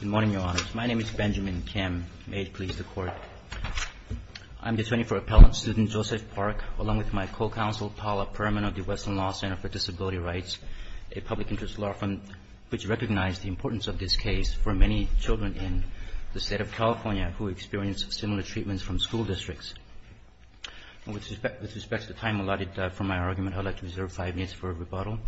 Good morning, Your Honors. My name is Benjamin Kim. May it please the Court, I'm the attorney for Appellant Student Joseph Park, along with my co-counsel Paula Perman of the Western Law Center for Disability Rights, a public interest law firm which recognized the importance of this case for many children in the state of California who experience similar treatments from school districts. With respect to the time allotted for my argument, I would like to reserve five minutes for rebuttal.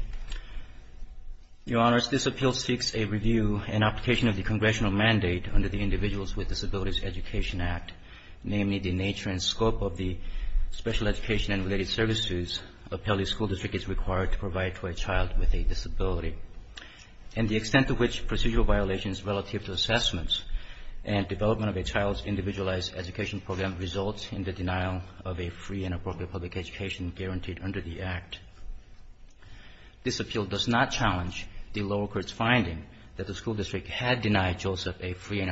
Your Honors, this appeal seeks a review and application of the congressional mandate under the Individuals with Disabilities Education Act, namely the nature and scope of the special education and related services appellee school district is required to provide to a child with a disability, and the extent to which procedural violations relative to assessments and development of a child's individualized education program results in the denial of a free and appropriate public education guaranteed under the Act. This appeal does not challenge the lower court's finding that the school district had denied Joseph a free and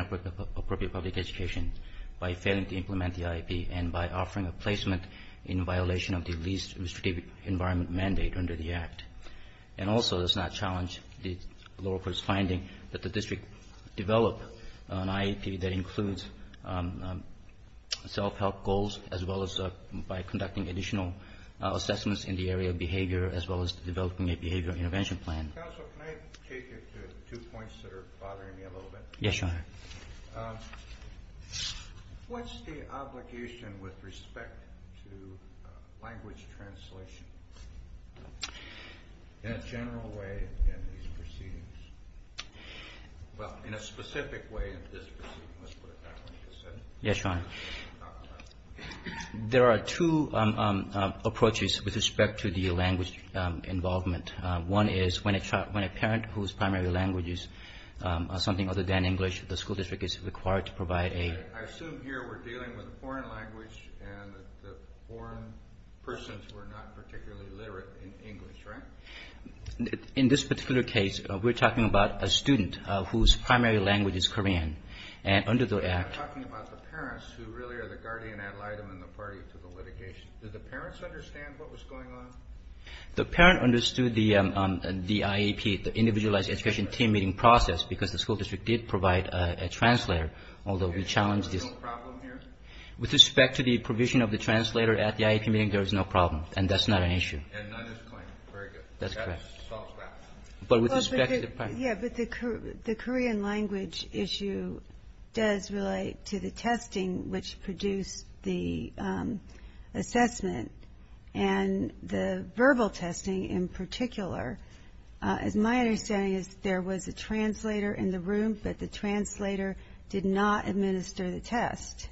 appropriate public education by failing to implement the IEP and by offering a placement in violation of the least restrictive environment mandate under the Act, and also does not challenge the lower court's finding that the district developed an IEP that includes self-help goals as well as by conducting additional assessments in the area of behavior as well as developing a behavior intervention plan. Counsel, can I take you to two points that are bothering me a little bit? Yes, Your Honor. What's the obligation with respect to language translation in a general way in these proceedings? Well, in a specific way in this proceeding, let's put it that way. Yes, Your Honor. There are two approaches with respect to the language involvement. One is when a parent whose primary language is something other than English, the school district is required to provide aid. I assume here we're dealing with a foreign language and the foreign persons who are not particularly literate in English, right? In this particular case, we're talking about a student whose primary language is Korean, and under the Act. We're talking about the parents who really are the guardian ad litem in the party to the litigation. Did the parents understand what was going on? The parent understood the IEP, the Individualized Education Team Meeting process, because the school district did provide a translator, although we challenged this. There's no problem here? With respect to the provision of the translator at the IEP meeting, there is no problem, and that's not an issue. And none is claimed. Very good. That's correct. That solves that. But with respect to the practice. Yes, but the Korean language issue does relate to the testing which produced the assessment. And the verbal testing in particular, as my understanding is, there was a translator in the room, but the translator did not administer the test.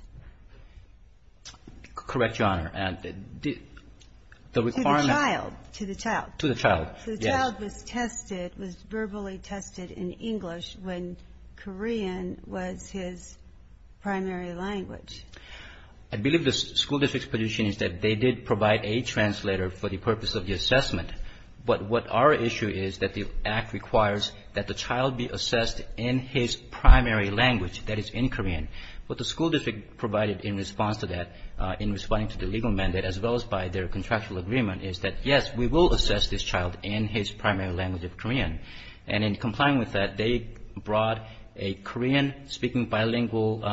Correct, Your Honor. To the child. To the child. To the child, yes. The child was tested, was verbally tested in English when Korean was his primary language. I believe the school district's position is that they did provide a translator for the purpose of the assessment. But what our issue is that the Act requires that the child be assessed in his primary language, that is, in Korean. What the school district provided in response to that, in responding to the legal mandate as well as by their contractual agreement, is that, yes, we will assess this child in his primary language of Korean. And in complying with that, they brought a Korean-speaking bilingual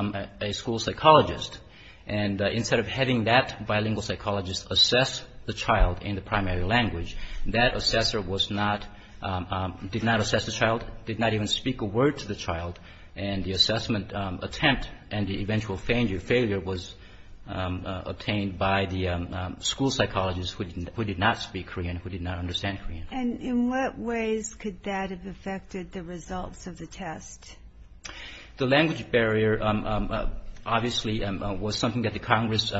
school psychologist. And instead of having that bilingual psychologist assess the child in the primary language, that assessor did not assess the child, did not even speak a word to the child, and the assessment attempt and the eventual failure was obtained by the school psychologist who did not speak Korean, who did not understand Korean. And in what ways could that have affected the results of the test? The language barrier obviously was something that the Congress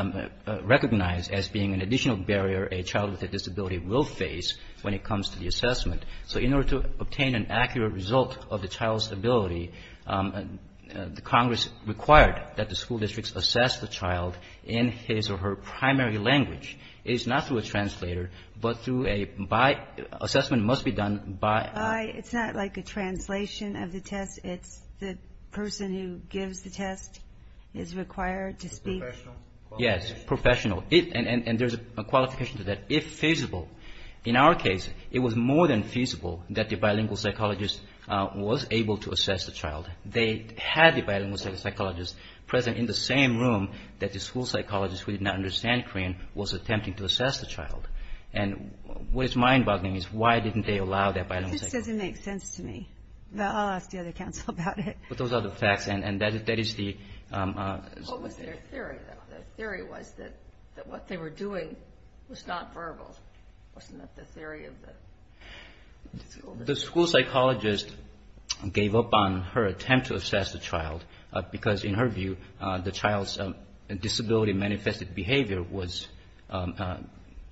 recognized as being an additional barrier a child with a disability will face when it comes to the assessment. So in order to obtain an accurate result of the child's ability, the Congress required that the school districts assess the child in his or her primary language. It is not through a translator, but through a by assessment must be done by. It's not like a translation of the test. It's the person who gives the test is required to speak. Yes, professional. And there's a qualification to that. In our case, it was more than feasible that the bilingual psychologist was able to assess the child. They had the bilingual psychologist present in the same room that the school psychologist who did not understand Korean was attempting to assess the child. And what is mind-boggling is why didn't they allow that bilingual psychologist? This doesn't make sense to me. I'll ask the other council about it. But those are the facts, and that is the... What was their theory, though? Their theory was that what they were doing was not verbal. Wasn't that the theory of the... The school psychologist gave up on her attempt to assess the child because, in her view, the child's disability manifested behavior was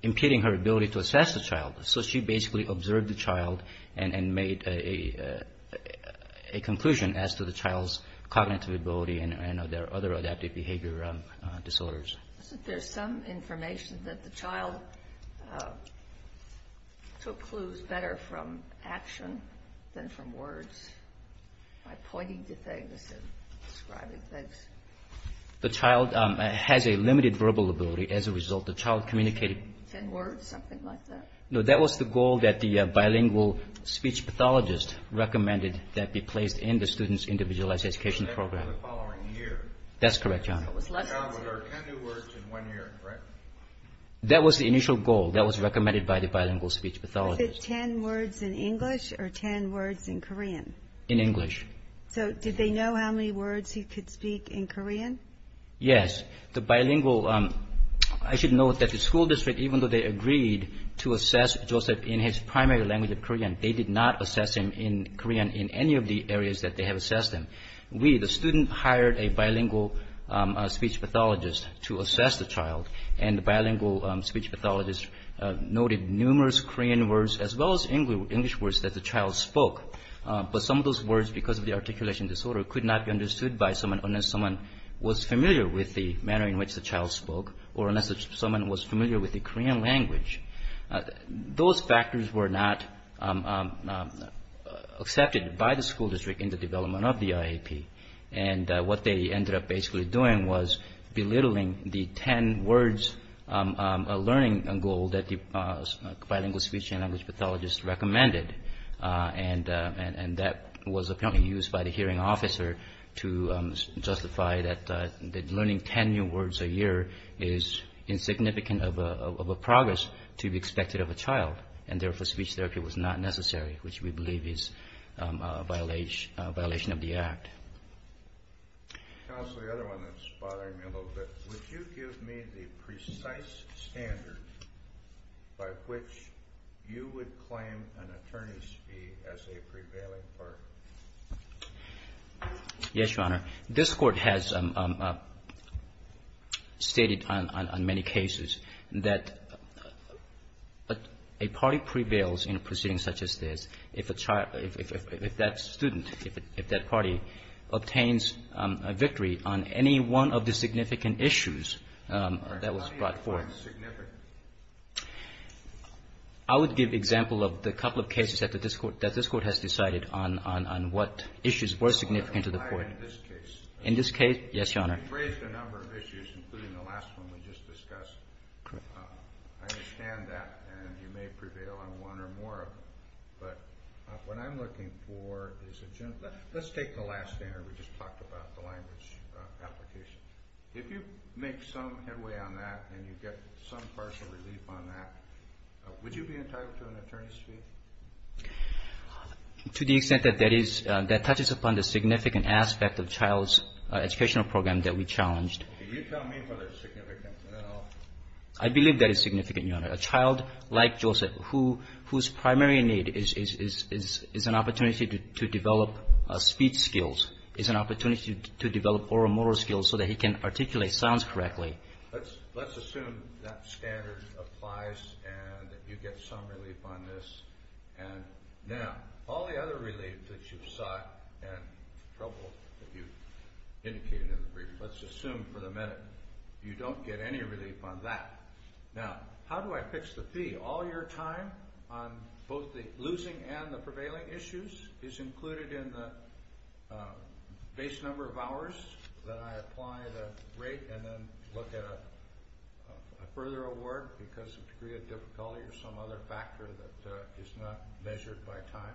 impeding her ability to assess the child. So she basically observed the child and made a conclusion as to the child's cognitive ability and other adaptive behavior disorders. There's some information that the child took clues better from action than from words, by pointing to things and describing things. The child has a limited verbal ability as a result. The child communicated... In words, something like that. No, that was the goal that the bilingual speech pathologist recommended that be placed in the student's individualized education program. That was the following year. That's correct, Your Honor. The child learned 10 new words in one year, right? That was the initial goal that was recommended by the bilingual speech pathologist. Was it 10 words in English or 10 words in Korean? In English. So did they know how many words he could speak in Korean? Yes. The bilingual... They did not assess him in Korean in any of the areas that they have assessed him. We, the student, hired a bilingual speech pathologist to assess the child, and the bilingual speech pathologist noted numerous Korean words as well as English words that the child spoke. But some of those words, because of the articulation disorder, could not be understood by someone unless someone was familiar with the manner in which the child spoke or unless someone was familiar with the Korean language. Those factors were not accepted by the school district in the development of the IAP, and what they ended up basically doing was belittling the 10 words learning goal that the bilingual speech and language pathologist recommended, and that was apparently used by the hearing officer to justify that learning 10 new words a year is insignificant of a progress to be expected of a child, and therefore speech therapy was not necessary, which we believe is a violation of the Act. Counsel, the other one that's bothering me a little bit. Would you give me the precise standard by which you would claim an attorney's fee as a prevailing part? Yes, Your Honor. This Court has stated on many cases that a party prevails in a proceeding such as this if that student, if that party obtains a victory on any one of the significant issues that was brought forth. All right. How do you define significant? I would give example of the couple of cases that this Court has decided on what issues were significant to the Court. In this case? In this case, yes, Your Honor. You've raised a number of issues, including the last one we just discussed. Correct. I understand that, and you may prevail on one or more of them, but what I'm looking for is a general. Let's take the last standard we just talked about, the language application. If you make some headway on that and you get some partial relief on that, would you be entitled to an attorney's fee? To the extent that that is, that touches upon the significant aspect of child's educational program that we challenged. Can you tell me whether it's significant at all? I believe that it's significant, Your Honor. A child like Joseph, whose primary need is an opportunity to develop speech skills, is an opportunity to develop oral and motor skills so that he can articulate sounds correctly. Let's assume that standard applies and you get some relief on this. Now, all the other relief that you've sought and troubled, as you indicated in the brief, let's assume for the minute you don't get any relief on that. Now, how do I fix the fee? All your time on both the losing and the prevailing issues is included in the base number of hours that I apply the rate and then look at a further award because of a degree of difficulty or some other factor that is not measured by time.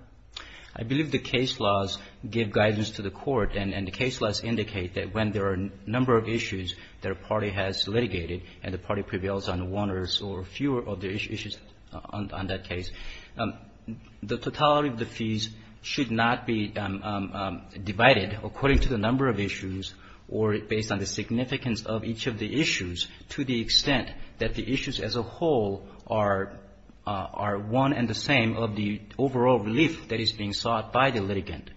I believe the case laws give guidance to the court, and the case laws indicate that when there are a number of issues that a party has litigated and the party prevails on one or fewer of the issues on that case, the totality of the fees should not be divided according to the number of issues or based on the significance of each of the issues to the extent that the issues as a whole are one and the same of the overall relief that is being sought by the litigant.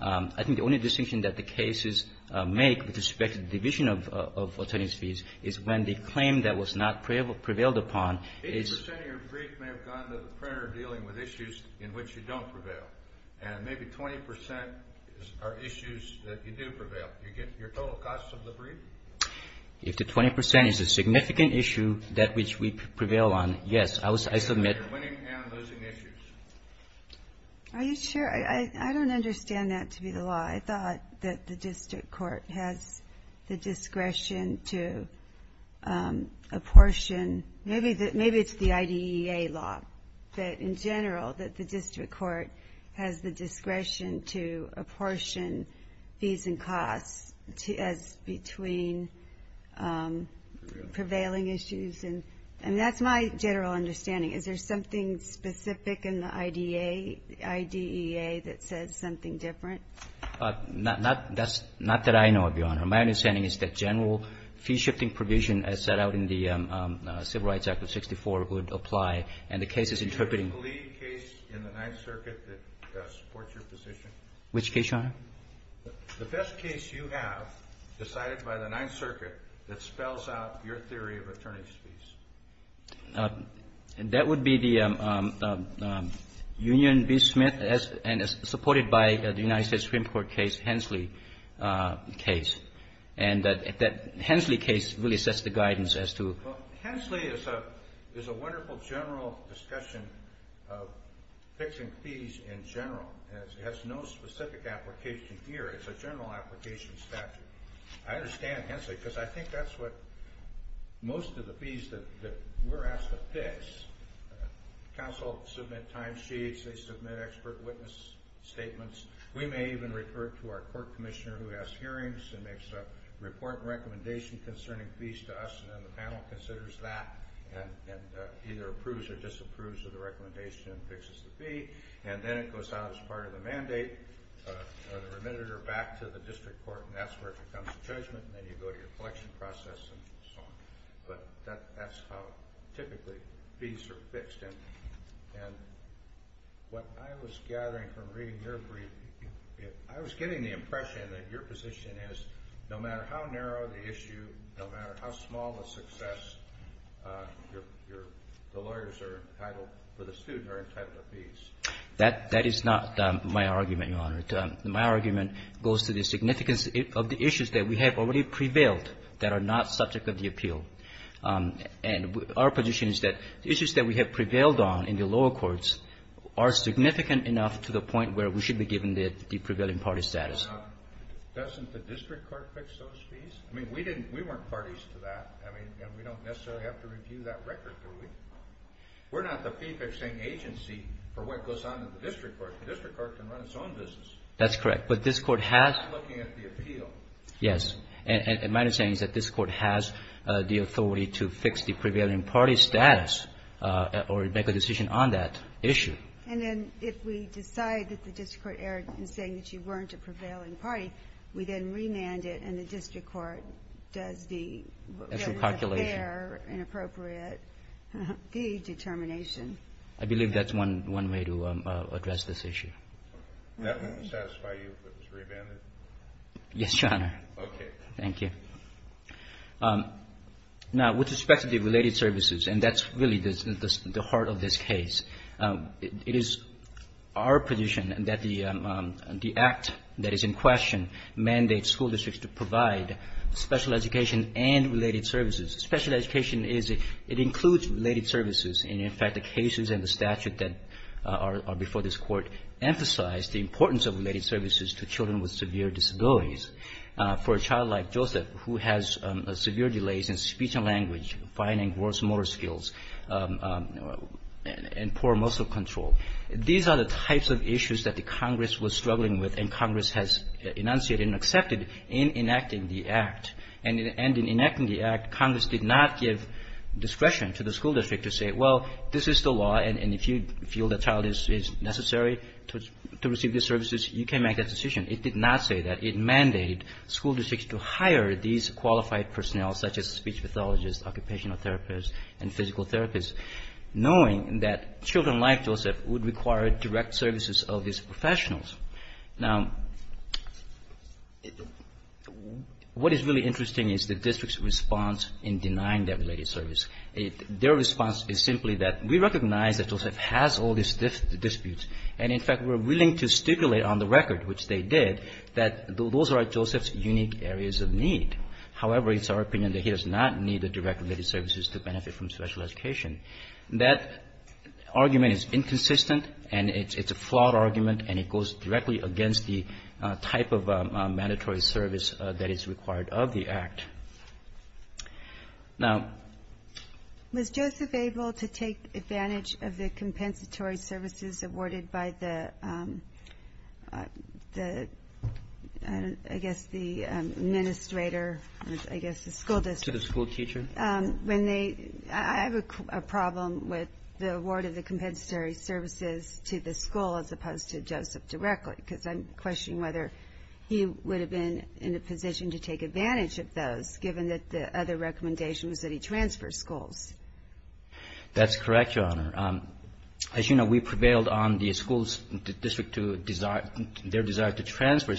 I think the only distinction that the cases make with respect to the division of attorneys' fees is when the claim that was not prevailed upon is 80% of your brief may have gone to the printer dealing with issues in which you don't prevail, and maybe 20% are issues that you do prevail. Do you get your total cost of the brief? If the 20% is a significant issue that which we prevail on, yes, I submit You're winning and losing issues. Are you sure? I don't understand that to be the law. I thought that the district court has the discretion to apportion. Maybe it's the IDEA law, but in general that the district court has the discretion to apportion fees and costs as between prevailing issues, and that's my general understanding. Is there something specific in the IDEA that says something different? Not that I know of, Your Honor. My understanding is that general fee-shifting provision as set out in the Civil Rights Act of 64 would apply, and the case is interpreting the lead case in the Ninth Circuit that supports your position. Which case, Your Honor? The best case you have decided by the Ninth Circuit that spells out your theory of attorney's fees. That would be the Union v. Smith and supported by the United States Supreme Court case, Hensley case. And that Hensley case really sets the guidance as to Well, Hensley is a wonderful general discussion of fixing fees in general. It has no specific application here. It's a general application statute. I understand Hensley, because I think that's what most of the fees that we're asked to fix, counsel submit timesheets, they submit expert witness statements. We may even refer it to our court commissioner who has hearings and makes a report and recommendation concerning fees to us, and then the panel considers that and either approves or disapproves of the recommendation and fixes the fee, and then it goes out as part of the mandate or the remitted or back to the district court, and that's where it becomes a judgment, and then you go to your collection process and so on. But that's how typically fees are fixed. And what I was gathering from reading your brief, I was getting the impression that your position is no matter how narrow the issue, no matter how small the success, the lawyers are entitled, or the students are entitled to fees. That is not my argument, Your Honor. My argument goes to the significance of the issues that we have already prevailed that are not subject of the appeal. And our position is that the issues that we have prevailed on in the lower courts are significant enough to the point where we should be given the prevailing party status. Doesn't the district court fix those fees? I mean, we didn't we weren't parties to that. I mean, we don't necessarily have to review that record, do we? We're not the fee-fixing agency for what goes on in the district court. The district court can run its own business. That's correct. But this Court has to look at the appeal. Yes. And my understanding is that this Court has the authority to fix the prevailing party status or make a decision on that issue. And then if we decide that the district court erred in saying that you weren't a prevailing party, we then remand it and the district court does the fair and appropriate fee determination. I believe that's one way to address this issue. That wouldn't satisfy you if it was remanded? Yes, Your Honor. Okay. Thank you. Now, with respect to the related services, and that's really the heart of this case, it is our position that the act that is in question mandates school districts to provide special education and related services. Special education is, it includes related services. And, in fact, the cases and the statute that are before this Court emphasize the importance of related services to children with severe disabilities. For a child like Joseph who has severe delays in speech and language, finding worse motor skills, and poor muscle control, these are the types of issues that the Congress was struggling with and Congress has enunciated and accepted in enacting the act. And in enacting the act, Congress did not give discretion to the school district to say, well, this is the law, and if you feel the child is necessary to receive these services, you can make that decision. It did not say that. It mandated school districts to hire these qualified personnel, such as speech pathologists, occupational therapists, and physical therapists, knowing that children like Joseph would require direct services of these professionals. Now, what is really interesting is the district's response in denying that related service. Their response is simply that we recognize that Joseph has all these disputes, and, in fact, we're willing to stipulate on the record, which they did, that those are Joseph's unique areas of need. However, it's our opinion that he does not need the direct related services to benefit from special education. That argument is inconsistent, and it's a flawed argument, and it goes directly against the type of mandatory service that is required of the act. Now, was Joseph able to take advantage of the compensatory services awarded by the, I guess, the administrator, I guess the school district? To the school teacher? When they, I have a problem with the award of the compensatory services to the school as opposed to Joseph directly, because I'm questioning whether he would have been in a position to take advantage of those, given that the other recommendation was that he transfer schools. That's correct, Your Honor. As you know, we prevailed on the school's district to, their desire to transfer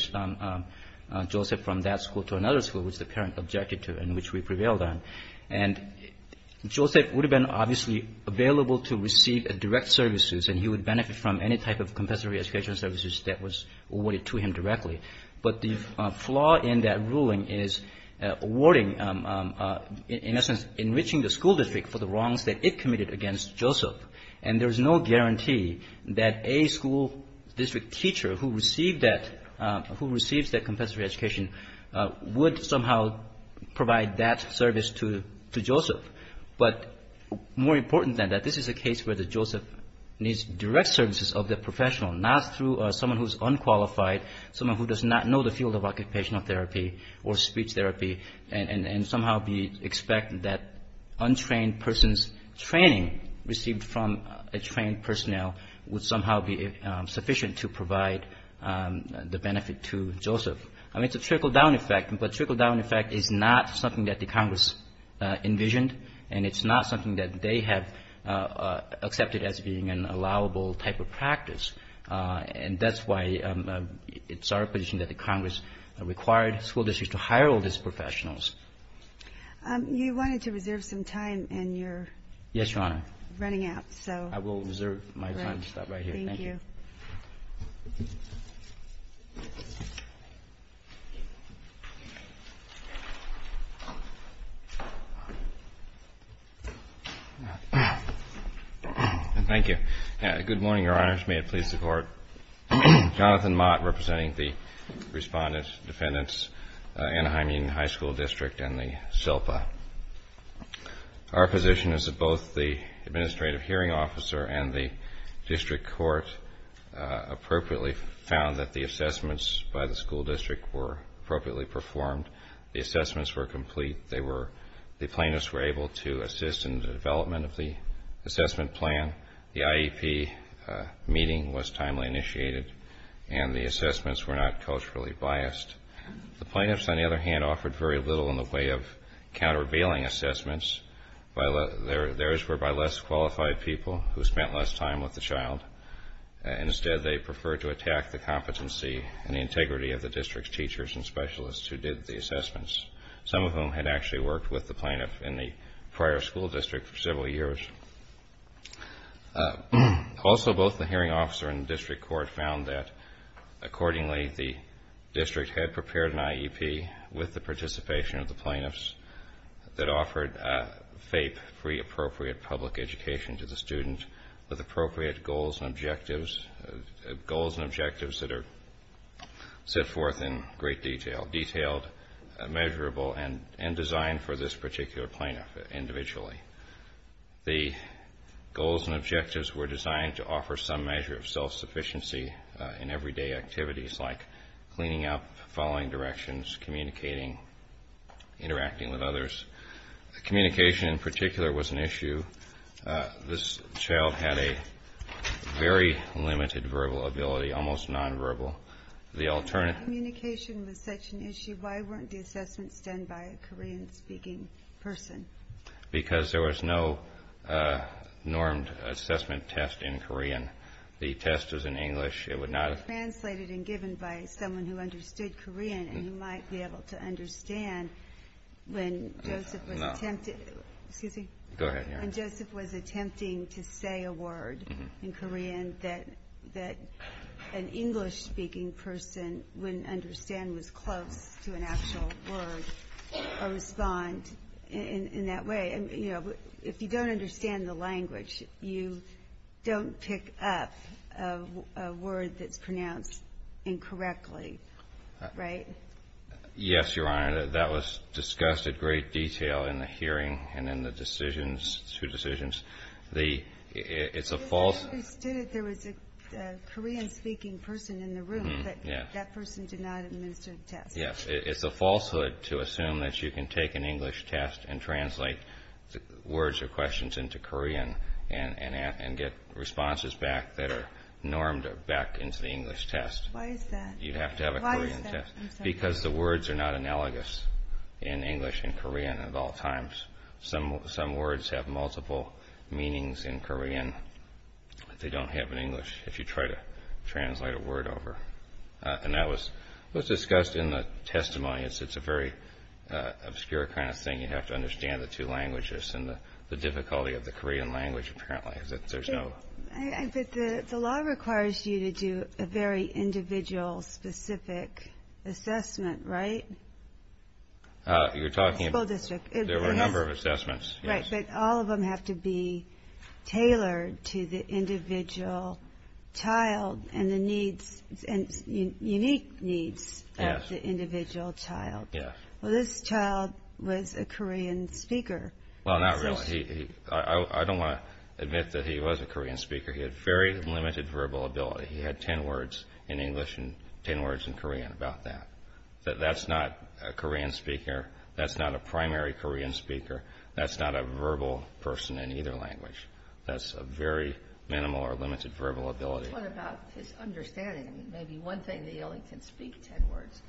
Joseph from that school to another school, which the parent objected to and which we prevailed on. And Joseph would have been obviously available to receive direct services, and he would benefit from any type of compensatory educational services that was awarded to him directly. But the flaw in that ruling is awarding, in essence, enriching the school district for the wrongs that it committed against Joseph. And there's no guarantee that a school district teacher who received that, who receives that compensatory education would somehow provide that service to Joseph. But more important than that, this is a case where Joseph needs direct services of the professional, not through someone who's unqualified, someone who does not know the field of occupational therapy or speech therapy, and somehow we expect that untrained person's training received from a trained Joseph. I mean, it's a trickle-down effect, but trickle-down effect is not something that the Congress envisioned, and it's not something that they have accepted as being an allowable type of practice. And that's why it's our position that the Congress required school districts to hire all these professionals. You wanted to reserve some time, and you're running out. Yes, Your Honor. I will reserve my time to stop right here. Thank you. Thank you. Good morning, Your Honors. May it please the Court. Jonathan Mott representing the Respondents, Defendants, Anaheim Union High School District, and the SILPA. Our position is that both the Administrative Hearing Officer and the District Court appropriately found that the assessments by the school district were appropriately performed. The assessments were complete. The plaintiffs were able to assist in the development of the assessment plan. The IEP meeting was timely initiated, and the assessments were not culturally biased. The plaintiffs, on the other hand, offered very little in the way of countervailing assessments. Theirs were by less qualified people who spent less time with the child. Instead, they preferred to attack the competency and the integrity of the district's teachers and specialists who did the assessments, some of whom had actually worked with the plaintiff in the prior school district for several years. Also, both the Hearing Officer and the District Court found that, accordingly, the district had prepared an IEP with the participation of the plaintiffs that offered FAPE, Free Appropriate Public Education, to the student with appropriate goals and objectives that are set forth in great detail, detailed, measurable, and designed for this particular plaintiff individually. The goals and objectives were designed to offer some measure of self-sufficiency in everyday activities like cleaning up, following directions, communicating, interacting with others. Communication, in particular, was an issue. This child had a very limited verbal ability, almost nonverbal. If communication was such an issue, why weren't the assessments done by a Korean-speaking person? Because there was no normed assessment test in Korean. The test was in English. It was translated and given by someone who understood Korean, and you might be able to understand when Joseph was attempting to say a word in Korean that an English-speaking person wouldn't understand was close to an actual word or respond in that way. If you don't understand the language, you don't pick up a word that's pronounced incorrectly, right? Yes, Your Honor. That was discussed in great detail in the hearing and in the two decisions. It's a false— We understood that there was a Korean-speaking person in the room, but that person did not administer the test. Yes, it's a falsehood to assume that you can take an English test and translate words or questions into Korean and get responses back that are normed back into the English test. Why is that? You'd have to have a Korean test. Why is that? Because the words are not analogous in English and Korean at all times. Some words have multiple meanings in Korean, but they don't have an English if you try to translate a word over. And that was discussed in the testimony. It's a very obscure kind of thing. You have to understand the two languages and the difficulty of the Korean language, apparently. But the law requires you to do a very individual-specific assessment, right? You're talking about— The school district. There were a number of assessments, yes. But all of them have to be tailored to the individual child and the unique needs of the individual child. Yes. Well, this child was a Korean speaker. Well, not really. I don't want to admit that he was a Korean speaker. He had very limited verbal ability. He had 10 words in English and 10 words in Korean about that. That's not a Korean speaker. That's not a primary Korean speaker. That's not a verbal person in either language. That's a very minimal or limited verbal ability. What about his understanding? Maybe one thing that he only can speak 10 words.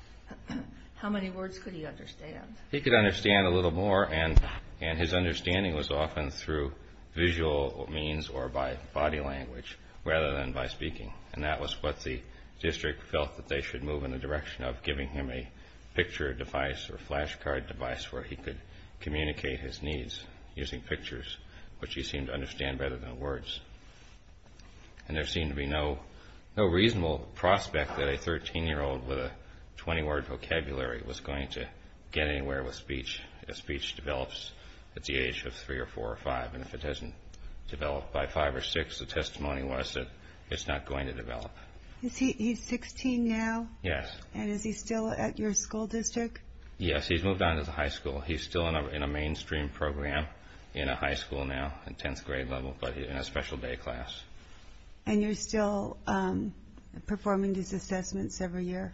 How many words could he understand? He could understand a little more, and his understanding was often through visual means or by body language rather than by speaking. And that was what the district felt that they should move in the direction of, giving him a picture device or flashcard device where he could communicate his needs using pictures, which he seemed to understand better than words. And there seemed to be no reasonable prospect that a 13-year-old with a 20-word vocabulary was going to get anywhere with speech if speech develops at the age of 3 or 4 or 5, and if it doesn't develop by 5 or 6, the testimony was that it's not going to develop. He's 16 now? Yes. And is he still at your school district? Yes, he's moved on to the high school. He's still in a mainstream program in a high school now, in 10th grade level, but in a special day class. And you're still performing these assessments every year?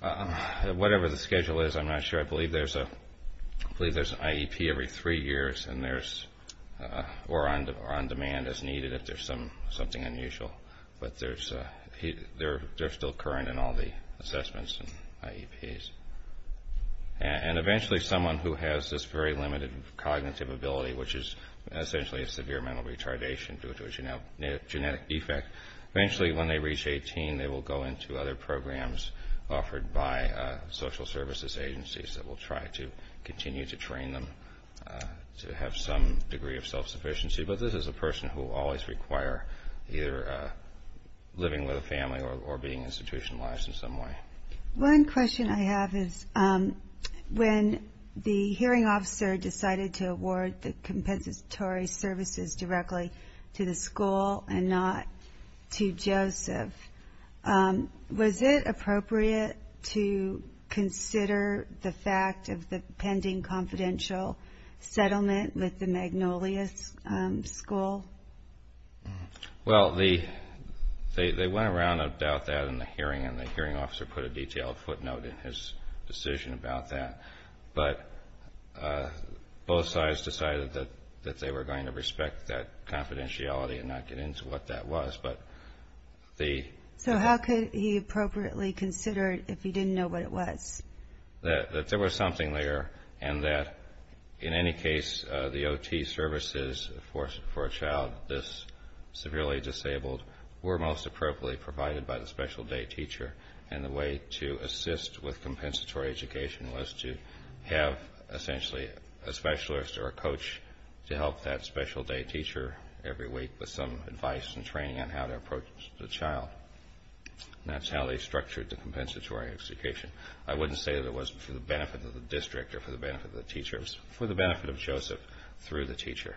Whatever the schedule is, I'm not sure. I believe there's an IEP every three years, or on demand as needed if there's something unusual. But they're still current in all the assessments and IEPs. And eventually someone who has this very limited cognitive ability, which is essentially a severe mental retardation due to a genetic defect, eventually when they reach 18, they will go into other programs offered by social services agencies that will try to continue to train them to have some degree of self-sufficiency. But this is a person who will always require either living with a family or being institutionalized in some way. One question I have is, when the hearing officer decided to award the compensatory services directly to the school and not to Joseph, was it appropriate to consider the fact of the pending confidential settlement with the Magnolias School? Well, they went around about that in the hearing and the hearing officer put a detailed footnote in his decision about that. But both sides decided that they were going to respect that confidentiality and not get into what that was. So how could he appropriately consider it if he didn't know what it was? That there was something there and that, in any case, the OT services for a child this severely disabled were most appropriately provided by the special day teacher and the way to assist with compensatory education was to have essentially a specialist or a coach to help that special day teacher every week with some advice and training on how to approach the child. And that's how they structured the compensatory education. I wouldn't say that it was for the benefit of the district or for the benefit of the teacher. It was for the benefit of Joseph through the teacher.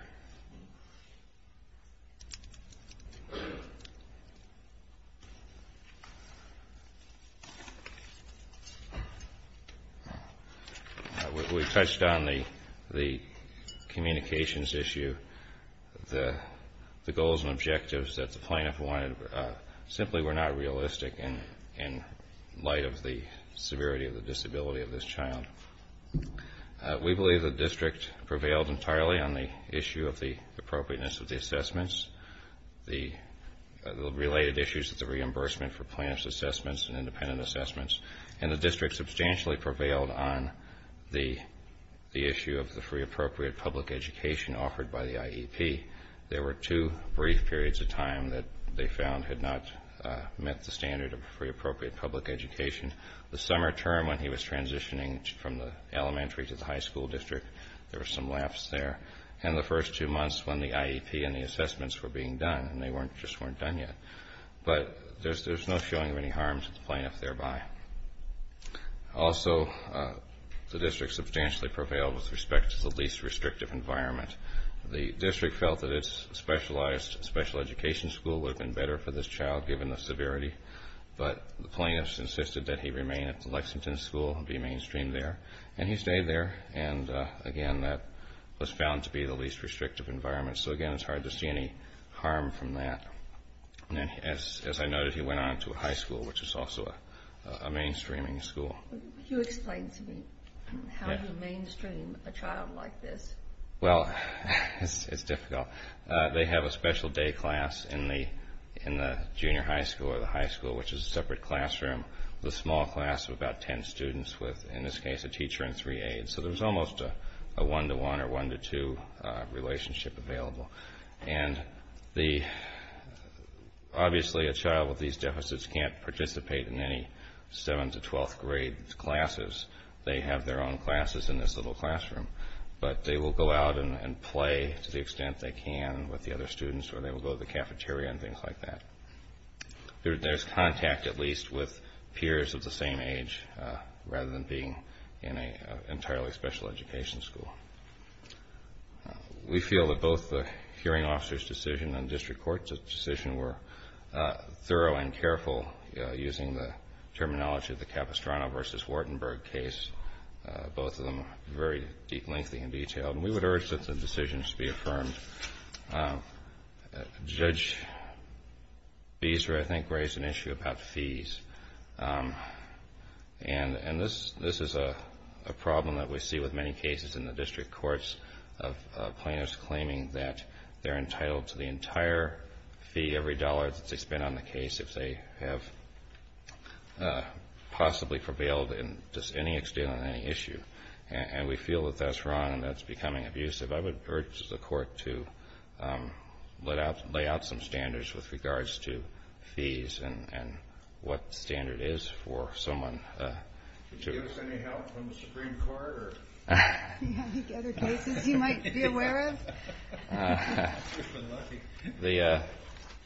We touched on the communications issue, the goals and objectives that the plaintiff wanted simply were not realistic in light of the severity of the disability of this child. We believe the district prevailed entirely on the issue of the appropriateness of the assessments, the related issues with the reimbursement for plaintiff's assessments and independent assessments, and the district substantially prevailed on the issue of the free appropriate public education offered by the IEP. There were two brief periods of time that they found had not met the standard of free appropriate public education. The summer term when he was transitioning from the elementary to the high school district, there were some laughs there, and the first two months when the IEP and the assessments were being done, and they just weren't done yet. But there's no showing of any harm to the plaintiff thereby. Also, the district substantially prevailed with respect to the least restrictive environment. The district felt that its specialized special education school would have been better for this child given the severity, but the plaintiffs insisted that he remain at the Lexington school and be mainstreamed there, and he stayed there. And, again, that was found to be the least restrictive environment. So, again, it's hard to see any harm from that. As I noted, he went on to a high school, which is also a mainstreaming school. Can you explain to me how you mainstream a child like this? Well, it's difficult. They have a special day class in the junior high school or the high school, which is a separate classroom with a small class of about ten students with, in this case, a teacher and three aides. So there's almost a one-to-one or one-to-two relationship available. And, obviously, a child with these deficits can't participate in any 7th to 12th grade classes. They have their own classes in this little classroom. But they will go out and play to the extent they can with the other students, or they will go to the cafeteria and things like that. There's contact, at least, with peers of the same age rather than being in an entirely special education school. We feel that both the hearing officer's decision and district court's decision were thorough and careful using the terminology of the Capistrano v. Wartenberg case, both of them very deep, lengthy, and detailed. And we would urge that the decisions be affirmed. Judge Beeser, I think, raised an issue about fees. And this is a problem that we see with many cases in the district courts of plaintiffs claiming that they're entitled to the entire fee every dollar that they spend on the case if they have possibly prevailed in just any extent on any issue. And we feel that that's wrong and that's becoming abusive. I would urge the court to lay out some standards with regards to fees and what the standard is for someone to- Can you give us any help from the Supreme Court? Any other cases you might be aware of?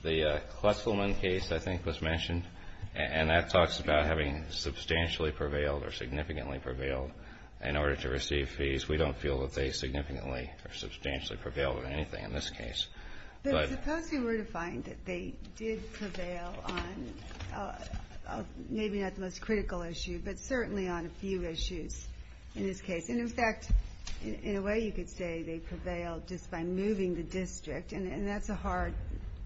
The Klesselman case, I think, was mentioned. And that talks about having substantially prevailed or significantly prevailed in order to receive fees. We don't feel that they significantly or substantially prevailed in anything in this case. But suppose we were to find that they did prevail on maybe not the most critical issue, but certainly on a few issues in this case. In fact, in a way you could say they prevailed just by moving the district. And that's a hard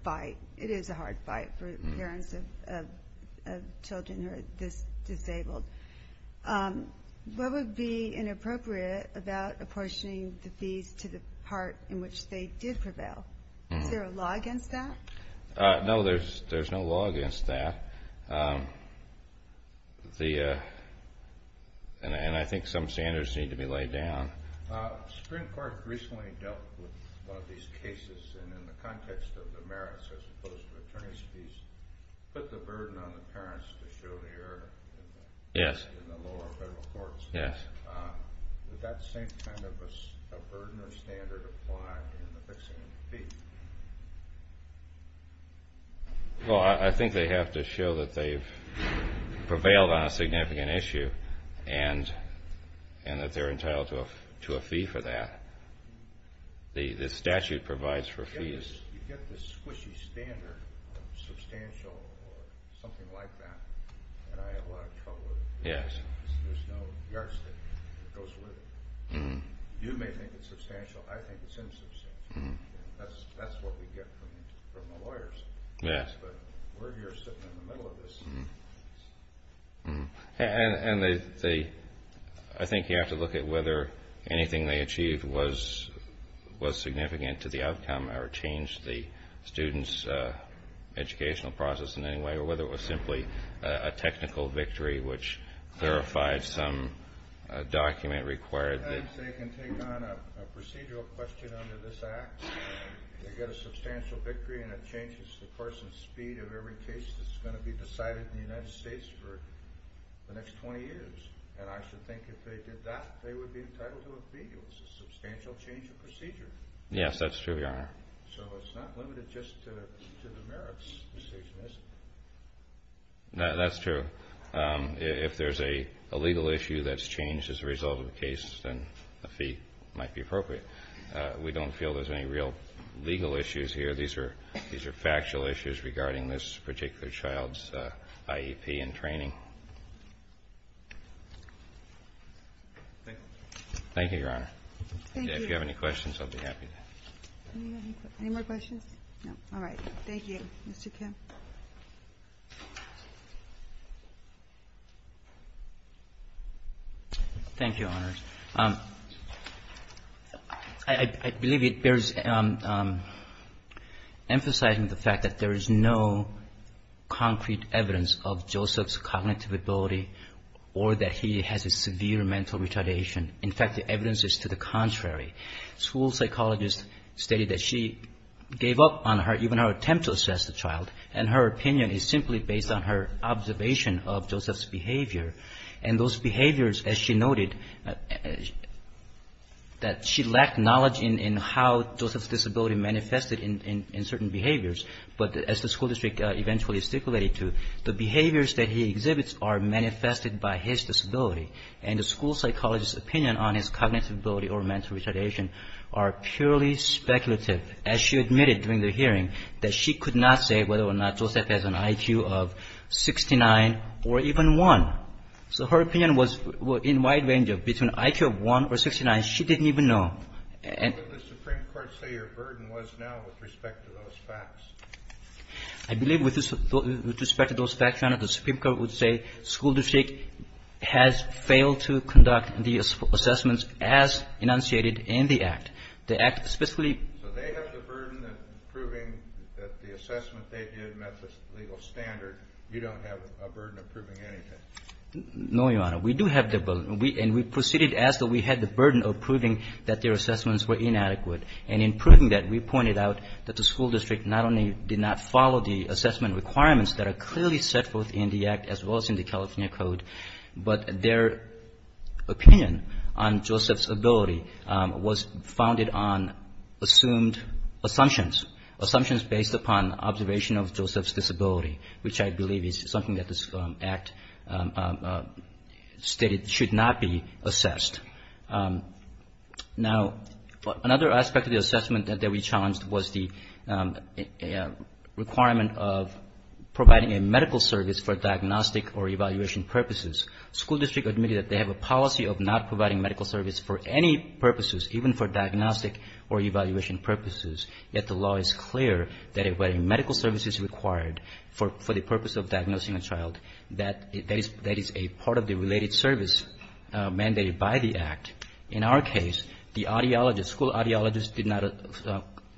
fight. It is a hard fight for parents of children who are disabled. What would be inappropriate about apportioning the fees to the part in which they did prevail? Is there a law against that? No, there's no law against that. And I think some standards need to be laid down. The Supreme Court recently dealt with one of these cases. And in the context of the merits, as opposed to attorney's fees, put the burden on the parents to show the error in the lower federal courts. Would that same kind of a burden or standard apply in the fixing of the fee? Well, I think they have to show that they've prevailed on a significant issue and that they're entitled to a fee for that. The statute provides for fees. You get this squishy standard of substantial or something like that, and I have a lot of trouble with it because there's no yardstick that goes with it. You may think it's substantial. I think it's insubstantial. That's what we get from the lawyers. But we're here sitting in the middle of this. And I think you have to look at whether anything they achieved was significant to the outcome or changed the student's educational process in any way or whether it was simply a technical victory which clarified some document required. They can take on a procedural question under this Act. They get a substantial victory, and it changes the course and speed of every case that's going to be decided in the United States for the next 20 years. And I should think if they did that, they would be entitled to a fee. It's a substantial change of procedure. Yes, that's true, Your Honor. So it's not limited just to the merits decision, is it? That's true. If there's a legal issue that's changed as a result of the case, then a fee might be appropriate. We don't feel there's any real legal issues here. These are factual issues regarding this particular child's IEP and training. Thank you, Your Honor. Thank you. If you have any questions, I'll be happy to. Any more questions? No. All right. Thank you, Mr. Kim. Thank you, Your Honor. I believe it bears emphasizing the fact that there is no concrete evidence of Joseph's cognitive ability or that he has a severe mental retardation. School psychologists stated that she gave up on even her attempt to assess the child and her opinion is simply based on her observation of Joseph's behavior. And those behaviors, as she noted, that she lacked knowledge in how Joseph's disability manifested in certain behaviors. But as the school district eventually stipulated too, the behaviors that he exhibits are manifested by his disability. And the school psychologist's opinion on his cognitive ability or mental retardation are purely speculative, as she admitted during the hearing, that she could not say whether or not Joseph has an IQ of 69 or even 1. So her opinion was in wide range of between IQ of 1 or 69. She didn't even know. And the Supreme Court say her burden was now with respect to those facts. I believe with respect to those facts, Your Honor, the Supreme Court would say school district has failed to conduct the assessments as enunciated in the Act. The Act specifically ---- So they have the burden of proving that the assessment they did met the legal standard. You don't have a burden of proving anything. No, Your Honor. We do have the burden. And we proceeded as though we had the burden of proving that their assessments were inadequate. And in proving that, we pointed out that the school district not only did not follow the assessment requirements that are clearly set forth in the Act as well as in the California Code, but their opinion on Joseph's ability was founded on assumed assumptions, assumptions based upon observation of Joseph's disability, which I believe is something that this Act stated should not be assessed. Now, another aspect of the assessment that we challenged was the requirement of providing a medical service for diagnostic or evaluation purposes. School district admitted that they have a policy of not providing medical service for any purposes, even for diagnostic or evaluation purposes, yet the law is clear that if medical service is required for the purpose of diagnosing a child, that is a part of the related service mandated by the Act. In our case, the audiologist, school audiologist did not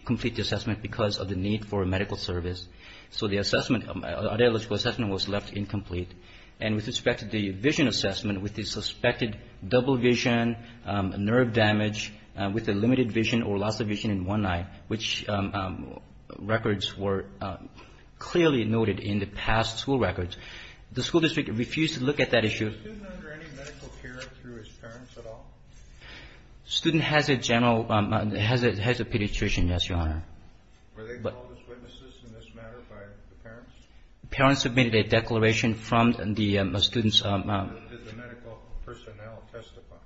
complete the assessment because of the need for medical service. So the assessment, audiological assessment was left incomplete. And with respect to the vision assessment, with the suspected double vision, nerve damage, with the limited vision or loss of vision in one eye, which records were clearly noted in the past school records, the school district refused to look at that issue. Was the student under any medical care through his parents at all? The student has a general, has a pediatrician, yes, Your Honor. Were they called as witnesses in this matter by the parents? The parents submitted a declaration from the students. Did the medical personnel testify?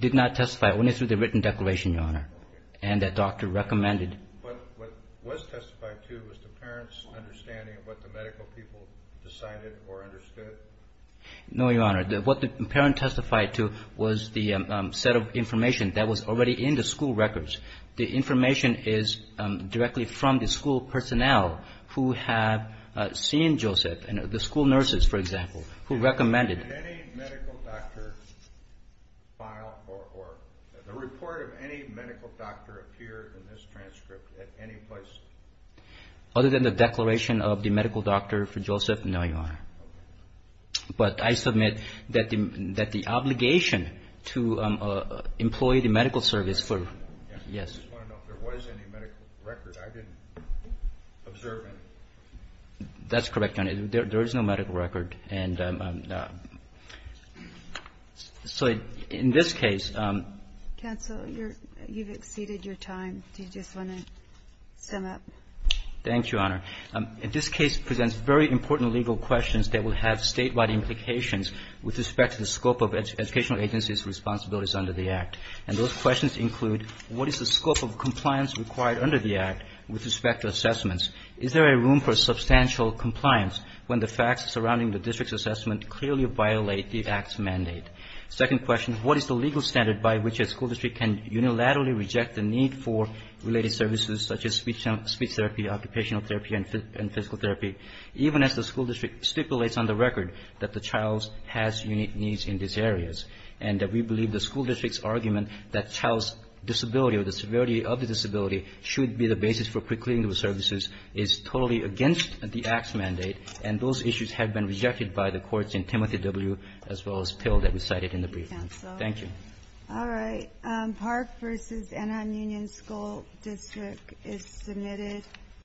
Did not testify, only through the written declaration, Your Honor. And the doctor recommended. But what was testified to was the parents' understanding of what the medical people decided or understood? No, Your Honor. What the parent testified to was the set of information that was already in the school records. The information is directly from the school personnel who have seen Joseph, the school nurses, for example, who recommended. Did any medical doctor file or the report of any medical doctor appear in this transcript at any place? Other than the declaration of the medical doctor for Joseph, no, Your Honor. But I submit that the obligation to employ the medical service for, yes. I just want to know if there was any medical record. I didn't observe any. That's correct, Your Honor. There is no medical record. And so in this case ---- Counsel, you've exceeded your time. Do you just want to sum up? Thank you, Your Honor. This case presents very important legal questions that will have statewide implications with respect to the scope of educational agencies' responsibilities under the Act. And those questions include what is the scope of compliance required under the Act with respect to assessments? Is there a room for substantial compliance when the facts surrounding the district's assessment clearly violate the Act's mandate? Second question, what is the legal standard by which a school district can unilaterally reject the need for related services such as speech therapy, occupational therapy and physical therapy, even as the school district stipulates on the record that the child has unique needs in these areas and that we believe the school district's argument that child's disability or the severity of the disability should be the basis for quick cleaning of services is totally against the Act's mandate, and those issues have been rejected by the courts in Timothy W. as well as Till that we cited in the brief. Thank you. All right. Park v. Anaheim Union School District is submitted.